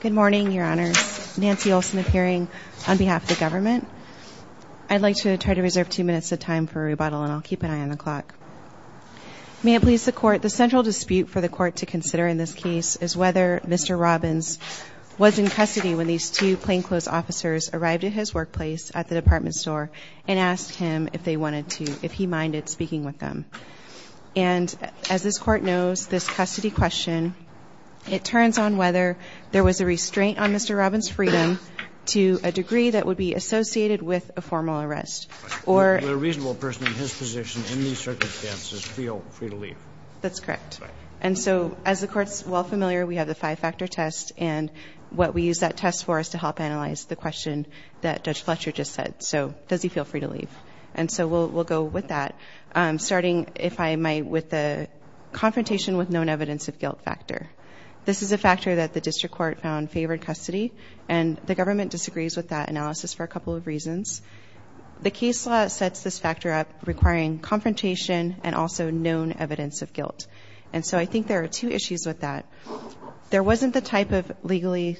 Good morning, Your Honors. Nancy Olson appearing on behalf of the government. I'd like to try to reserve two minutes of time for rebuttal, and I'll keep an eye on the clock. May it please the Court, the central dispute for the Court to consider in this case is whether Mr. Robbins was in custody when these two plainclothes officers arrived at his workplace at the department store and asked him if he minded speaking with them. And as this Court knows, this custody question, it turns on whether there was a restraint on Mr. Robbins' freedom to a degree that would be associated with a formal arrest. Would a reasonable person in his position in these circumstances feel free to leave? That's correct. And so as the Court's well familiar, we have the five-factor test, and what we use that test for is to help analyze the question that Judge Fletcher just said, so does he feel free to leave? And so we'll go with that, starting, if I might, with the confrontation with known evidence of guilt factor. This is a factor that the district court found favored custody, and the government disagrees with that analysis for a couple of reasons. The case law sets this factor up requiring confrontation and also known evidence of guilt, and so I think there are two issues with that. There wasn't the type of legally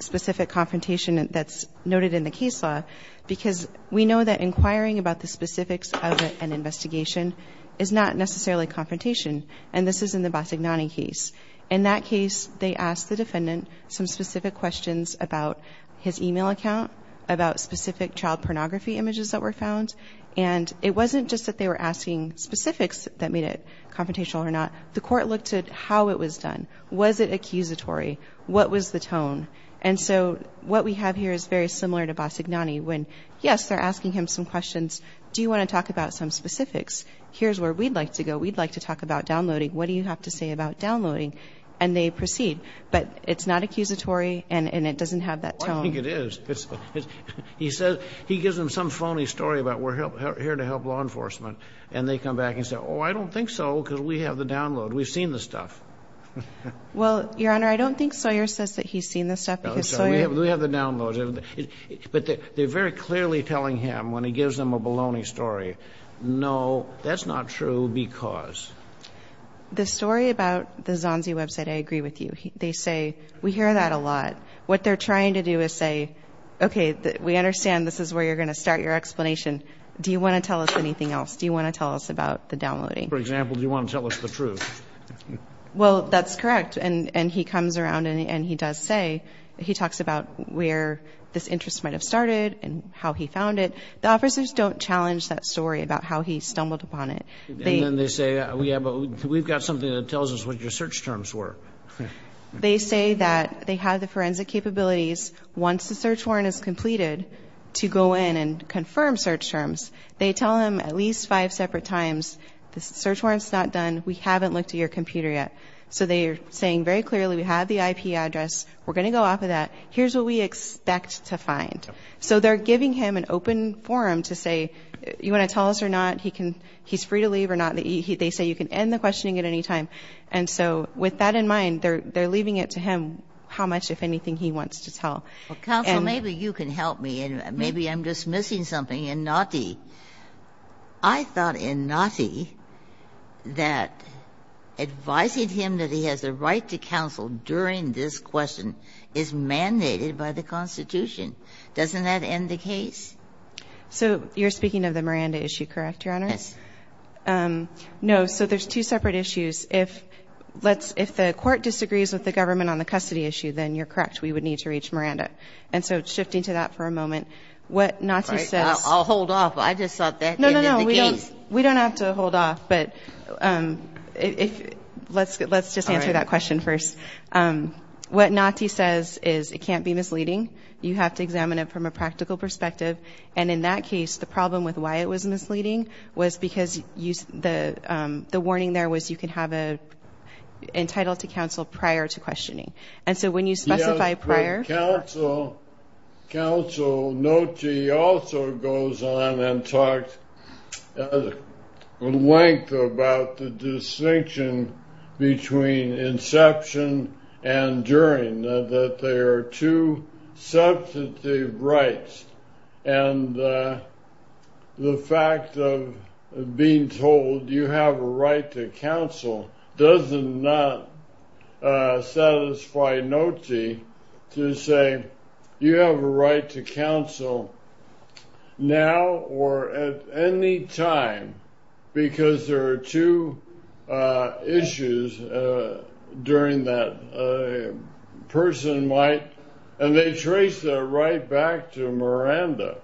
specific confrontation that's noted in the case law because we know that inquiring about the specifics of an investigation is not necessarily confrontation, and this is in the Bassignani case. In that case, they asked the defendant some specific questions about his e-mail account, about specific child pornography images that were found, and it wasn't just that they were asking specifics that made it confrontational or not. The court looked at how it was done. Was it accusatory? What was the tone? And so what we have here is very similar to Bassignani when, yes, they're asking him some questions. Do you want to talk about some specifics? Here's where we'd like to go. We'd like to talk about downloading. What do you have to say about downloading? And they proceed, but it's not accusatory, and it doesn't have that tone. I think it is. He gives them some phony story about we're here to help law enforcement, and they come back and say, oh, I don't think so because we have the download. We've seen the stuff. Well, Your Honor, I don't think Sawyer says that he's seen the stuff. We have the download, but they're very clearly telling him when he gives them a baloney story, no, that's not true because. The story about the Zonzi website, I agree with you. They say we hear that a lot. What they're trying to do is say, okay, we understand this is where you're going to start your explanation. Do you want to tell us anything else? Do you want to tell us about the downloading? For example, do you want to tell us the truth? Well, that's correct, and he comes around and he does say, he talks about where this interest might have started and how he found it. The officers don't challenge that story about how he stumbled upon it. And then they say, yeah, but we've got something that tells us what your search terms were. They say that they have the forensic capabilities once the search warrant is completed to go in and confirm search terms. They tell him at least five separate times, the search warrant's not done, we haven't looked at your computer yet. So they're saying very clearly we have the IP address, we're going to go off of that, here's what we expect to find. So they're giving him an open forum to say, you want to tell us or not, he's free to leave or not. They say you can end the questioning at any time. And so with that in mind, they're leaving it to him how much, if anything, he wants to tell. Ginsburg. Counsel, maybe you can help me, and maybe I'm just missing something in Notte. I thought in Notte that advising him that he has the right to counsel during this question is mandated by the Constitution. Doesn't that end the case? So you're speaking of the Miranda issue, correct, Your Honors? Yes. No. So there's two separate issues. If the court disagrees with the government on the custody issue, then you're correct. We would need to reach Miranda. And so shifting to that for a moment, what Notte says. All right. I'll hold off. I just thought that ended the case. No, no, no. We don't have to hold off. But let's just answer that question first. What Notte says is it can't be misleading. You have to examine it from a practical perspective. And in that case, the problem with why it was misleading was because the warning there was you can have an entitled to counsel prior to questioning. And so when you specify prior. Counsel Notte also goes on and talks at length about the distinction between inception and during, that there are two substantive rights. And the fact of being told you have a right to counsel does not satisfy Notte to say you have a right to counsel now or at any time because there are two issues during that person might. And they trace that right back to Miranda.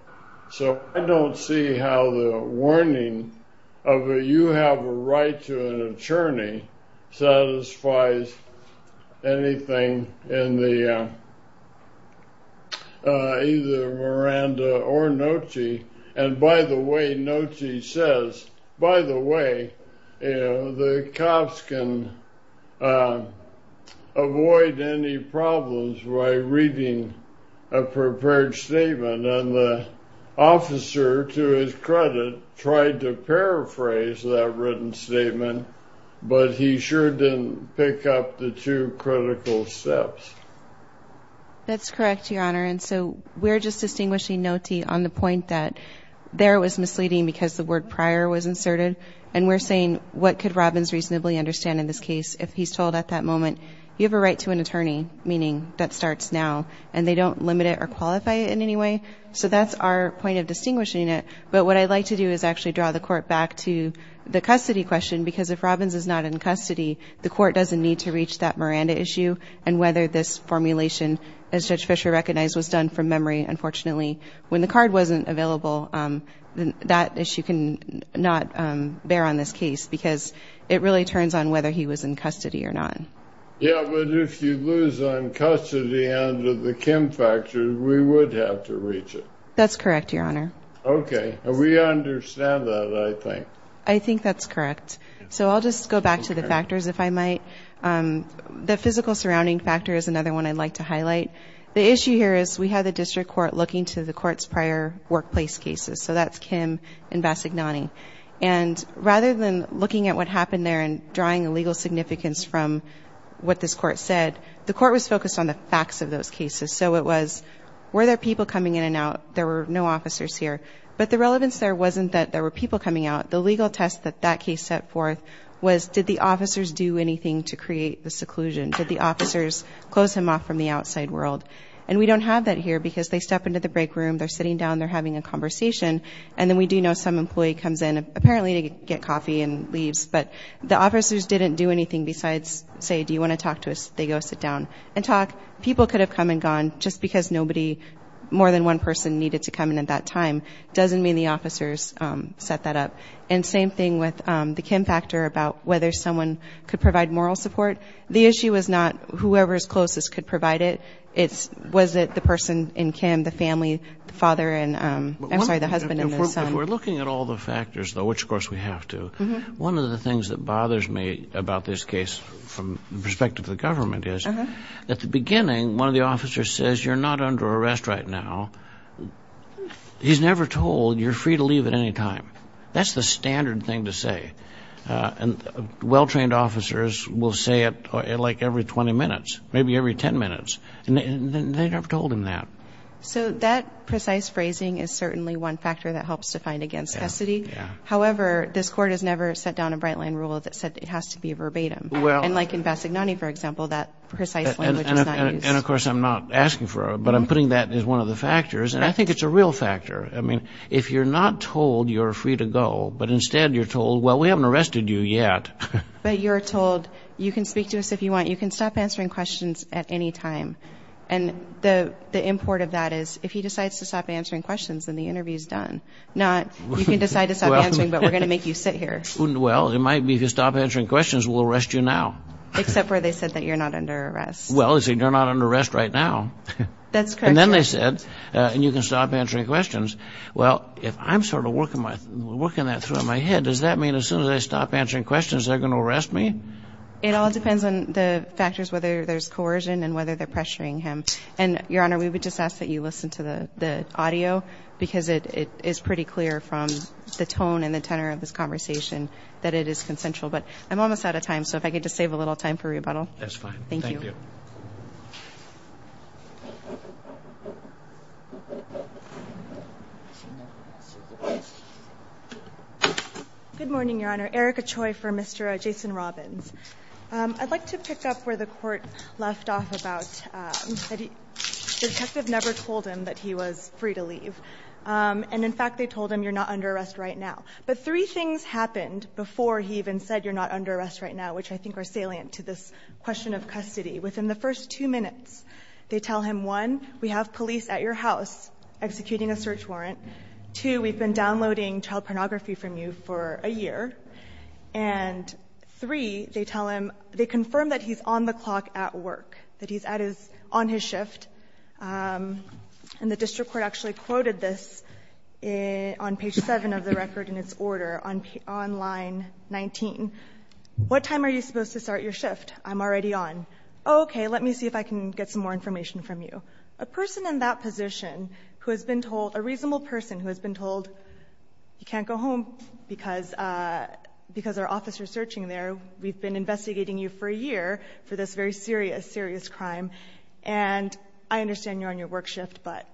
So I don't see how the warning of a you have a right to an attorney satisfies anything in either Miranda or Notte. And by the way, Notte says, by the way, the cops can avoid any problems by reading a prepared statement. And the officer, to his credit, tried to paraphrase that written statement, but he sure didn't pick up the two critical steps. That's correct, Your Honor. And so we're just distinguishing Notte on the point that there was misleading because the word prior was inserted. And we're saying what could Robbins reasonably understand in this case if he's told at that moment you have a right to an attorney, meaning that starts now, and they don't limit it or qualify it in any way. So that's our point of distinguishing it. But what I'd like to do is actually draw the Court back to the custody question because if Robbins is not in custody, the Court doesn't need to reach that Miranda issue and whether this formulation, as Judge Fischer recognized, was done from memory. Unfortunately, when the card wasn't available, that issue cannot bear on this case because it really turns on whether he was in custody or not. Yeah, but if you lose on custody under the Kim factor, we would have to reach it. That's correct, Your Honor. Okay. We understand that, I think. I think that's correct. So I'll just go back to the factors, if I might. The physical surrounding factor is another one I'd like to highlight. The issue here is we had the District Court looking to the Court's prior workplace cases. So that's Kim and Bassignani. And rather than looking at what happened there and drawing a legal significance from what this Court said, the Court was focused on the facts of those cases. So it was, were there people coming in and out? There were no officers here. But the relevance there wasn't that there were people coming out. The legal test that that case set forth was, did the officers do anything to create the seclusion? Did the officers close him off from the outside world? And we don't have that here because they step into the break room, they're sitting down, they're having a conversation, and then we do know some employee comes in, apparently to get coffee and leaves. But the officers didn't do anything besides say, do you want to talk to us? They go sit down and talk. People could have come and gone just because nobody, more than one person, needed to come in at that time. It doesn't mean the officers set that up. And same thing with the Kim factor about whether someone could provide moral support. The issue is not whoever's closest could provide it. It's was it the person in Kim, the family, the father and, I'm sorry, the husband and the son. If we're looking at all the factors, though, which, of course, we have to, one of the things that bothers me about this case from the perspective of the government is, at the beginning, one of the officers says, you're not under arrest right now. He's never told you're free to leave at any time. That's the standard thing to say. And well-trained officers will say it, like, every 20 minutes, maybe every 10 minutes. And they never told him that. So that precise phrasing is certainly one factor that helps to find against custody. However, this court has never set down a Bright Line rule that said it has to be verbatim. And like in Bassignani, for example, that precise language is not used. And, of course, I'm not asking for it, but I'm putting that as one of the factors. And I think it's a real factor. I mean, if you're not told you're free to go, but instead you're told, well, we haven't arrested you yet. But you're told, you can speak to us if you want. You can stop answering questions at any time. And the import of that is if he decides to stop answering questions, then the interview is done. Not, you can decide to stop answering, but we're going to make you sit here. Well, it might be if you stop answering questions, we'll arrest you now. Except where they said that you're not under arrest. Well, they say you're not under arrest right now. That's correct. And then they said, and you can stop answering questions. Well, if I'm sort of working that through in my head, does that mean as soon as I stop answering questions they're going to arrest me? It all depends on the factors, whether there's coercion and whether they're pressuring him. And, Your Honor, we would just ask that you listen to the audio because it is pretty clear from the tone and the tenor of this conversation that it is consensual. But I'm almost out of time, so if I could just save a little time for rebuttal. That's fine. Thank you. Good morning, Your Honor. Erica Choi for Mr. Jason Robbins. I'd like to pick up where the court left off about the detective never told him that he was free to leave. And, in fact, they told him you're not under arrest right now. But three things happened before he even said you're not under arrest right now, which I think are salient to this question of custody. Within the first two minutes, they tell him, one, we have police at your house executing a search warrant. Two, we've been downloading child pornography from you for a year. And, three, they tell him they confirmed that he's on the clock at work, that he's on his shift. And the district court actually quoted this on page 7 of the record in its order on line 19. What time are you supposed to start your shift? I'm already on. Oh, okay. Let me see if I can get some more information from you. A person in that position who has been told, a reasonable person who has been told, you can't go home because our office is searching there. We've been investigating you for a year for this very serious, serious crime. And I understand you're on your work shift, but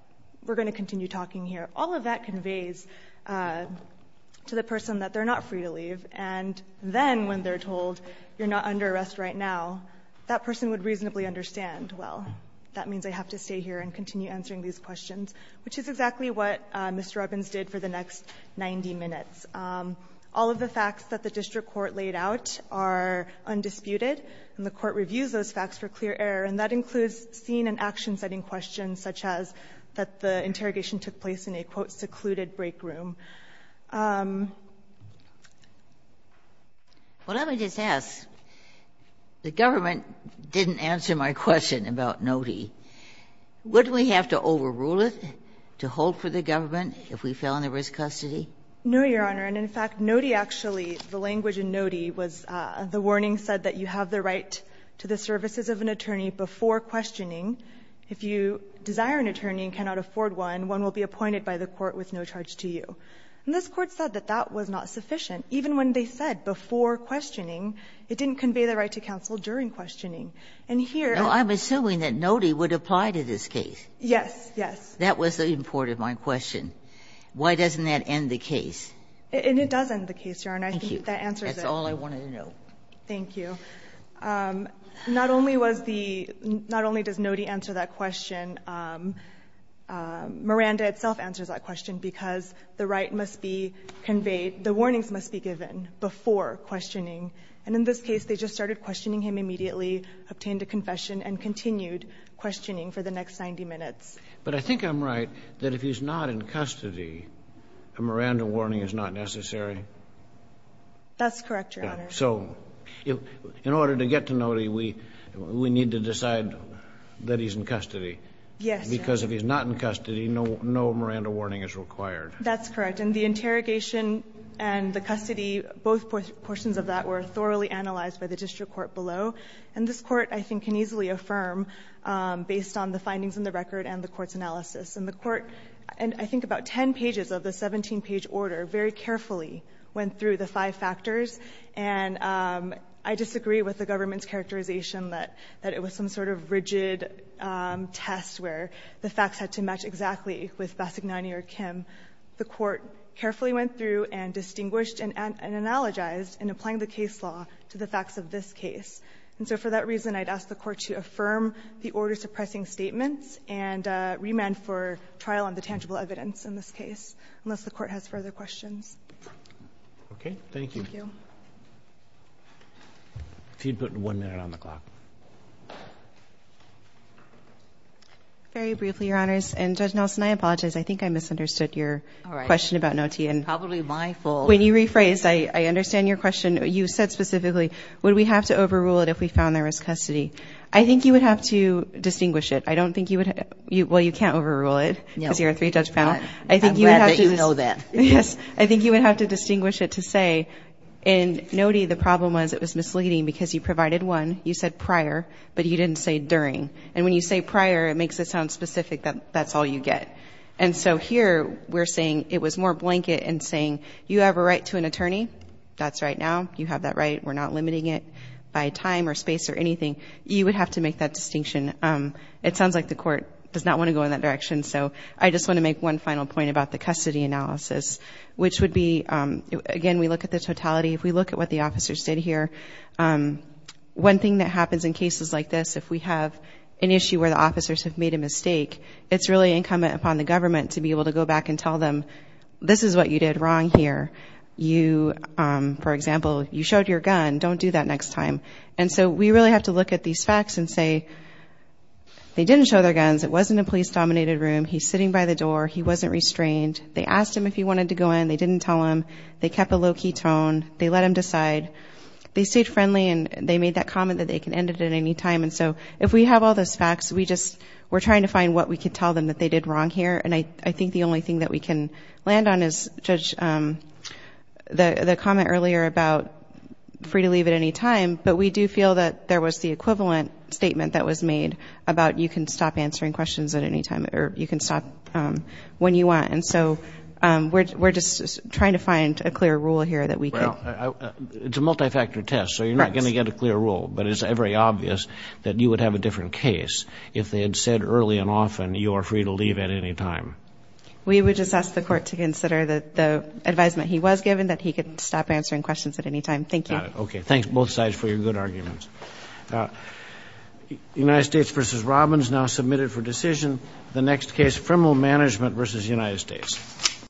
we're going to continue talking here. All of that conveys to the person that they're not free to leave. And then when they're told you're not under arrest right now, that person would reasonably understand, well, that means I have to stay here and continue answering these questions, which is exactly what Mr. Robbins did for the next 90 minutes. All of the facts that the district court laid out are undisputed, and the court reviews those facts for clear error, and that includes scene and action-setting questions such as that the interrogation took place in a, quote, secluded break room. What I would just ask, the government didn't answer my question about NOTI. Wouldn't we have to overrule it to hold for the government if we fell into risk custody? No, Your Honor. And in fact, NOTI actually, the language in NOTI was the warning said that you have the right to the services of an attorney before questioning. If you desire an attorney and cannot afford one, one will be appointed by the court with no charge to you. And this Court said that that was not sufficient. Even when they said before questioning, it didn't convey the right to counsel during questioning. And here the Court said that you have the right to the services of an attorney And here the Court said that you have the right to the services of an attorney before questioning. Why doesn't that end the case? And it does end the case, Your Honor. I think that answers it. That's all I wanted to know. Thank you. Not only was the – not only does NOTI answer that question, Miranda itself answers that question, because the right must be conveyed, the warnings must be given before questioning. And in this case, they just started questioning him immediately, obtained a confession, and continued questioning for the next 90 minutes. But I think I'm right that if he's not in custody, a Miranda warning is not necessary. That's correct, Your Honor. So in order to get to NOTI, we need to decide that he's in custody. Yes. Because if he's not in custody, no Miranda warning is required. That's correct. And the interrogation and the custody, both portions of that were thoroughly analyzed by the district court below. And this Court, I think, can easily affirm, based on the findings in the record and the Court's analysis. And the Court, in I think about 10 pages of the 17-page order, very carefully went through the five factors. And I disagree with the government's characterization that it was some sort of rigid test where the facts had to match exactly with Bassignani or Kim. The Court carefully went through and distinguished and analogized in applying the case law to the facts of this case. And so for that reason, I'd ask the Court to affirm the order suppressing statements and remand for trial on the tangible evidence in this case, unless the Court has further questions. Okay. Thank you. Thank you. If you'd put one minute on the clock. Very briefly, Your Honors, and Judge Nelson, I apologize. I think I misunderstood your question about NOTI. Probably my fault. When you rephrased, I understand your question. You said specifically, would we have to overrule it if we found there was custody. I think you would have to distinguish it. I don't think you would have to – well, you can't overrule it because you're a three-judge panel. I'm glad that you know that. Yes. I think you would have to distinguish it to say in NOTI the problem was it was misleading because you provided one. You said prior, but you didn't say during. And when you say prior, it makes it sound specific that that's all you get. And so here, we're saying it was more blanket in saying you have a right to an attorney. That's right now. You have that right. We're not limiting it by time or space or anything. You would have to make that distinction. It sounds like the Court does not want to go in that direction, so I just want to make one final point about the custody analysis, which would be, again, we look at the totality. If we look at what the officers did here. One thing that happens in cases like this, if we have an issue where the officers have made a mistake, it's really incumbent upon the government to be able to go back and tell them, this is what you did wrong here. You, for example, you showed your gun. Don't do that next time. And so we really have to look at these facts and say, they didn't show their guns. It wasn't a police-dominated room. He's sitting by the door. He wasn't restrained. They asked him if he wanted to go in. They didn't tell him. They kept a low-key tone. They let him decide. They stayed friendly and they made that comment that they can end it at any time. And so, if we have all those facts, we just, we're trying to find what we can tell them that they did wrong here. And I think the only thing that we can land on is, Judge, the comment earlier about free to leave at any time, but we do feel that there was the equivalent statement that was made about you can stop answering questions at any time, or you can stop when you want. And so, we're just trying to find a clear rule here that we could. Now, it's a multi-factor test, so you're not going to get a clear rule. But it's very obvious that you would have a different case if they had said early and often, you are free to leave at any time. We would just ask the court to consider the advisement he was given, that he could stop answering questions at any time. Thank you. Got it. Okay. Thanks, both sides, for your good arguments. United States v. Robbins, now submitted for decision. The next case, criminal management v. United States.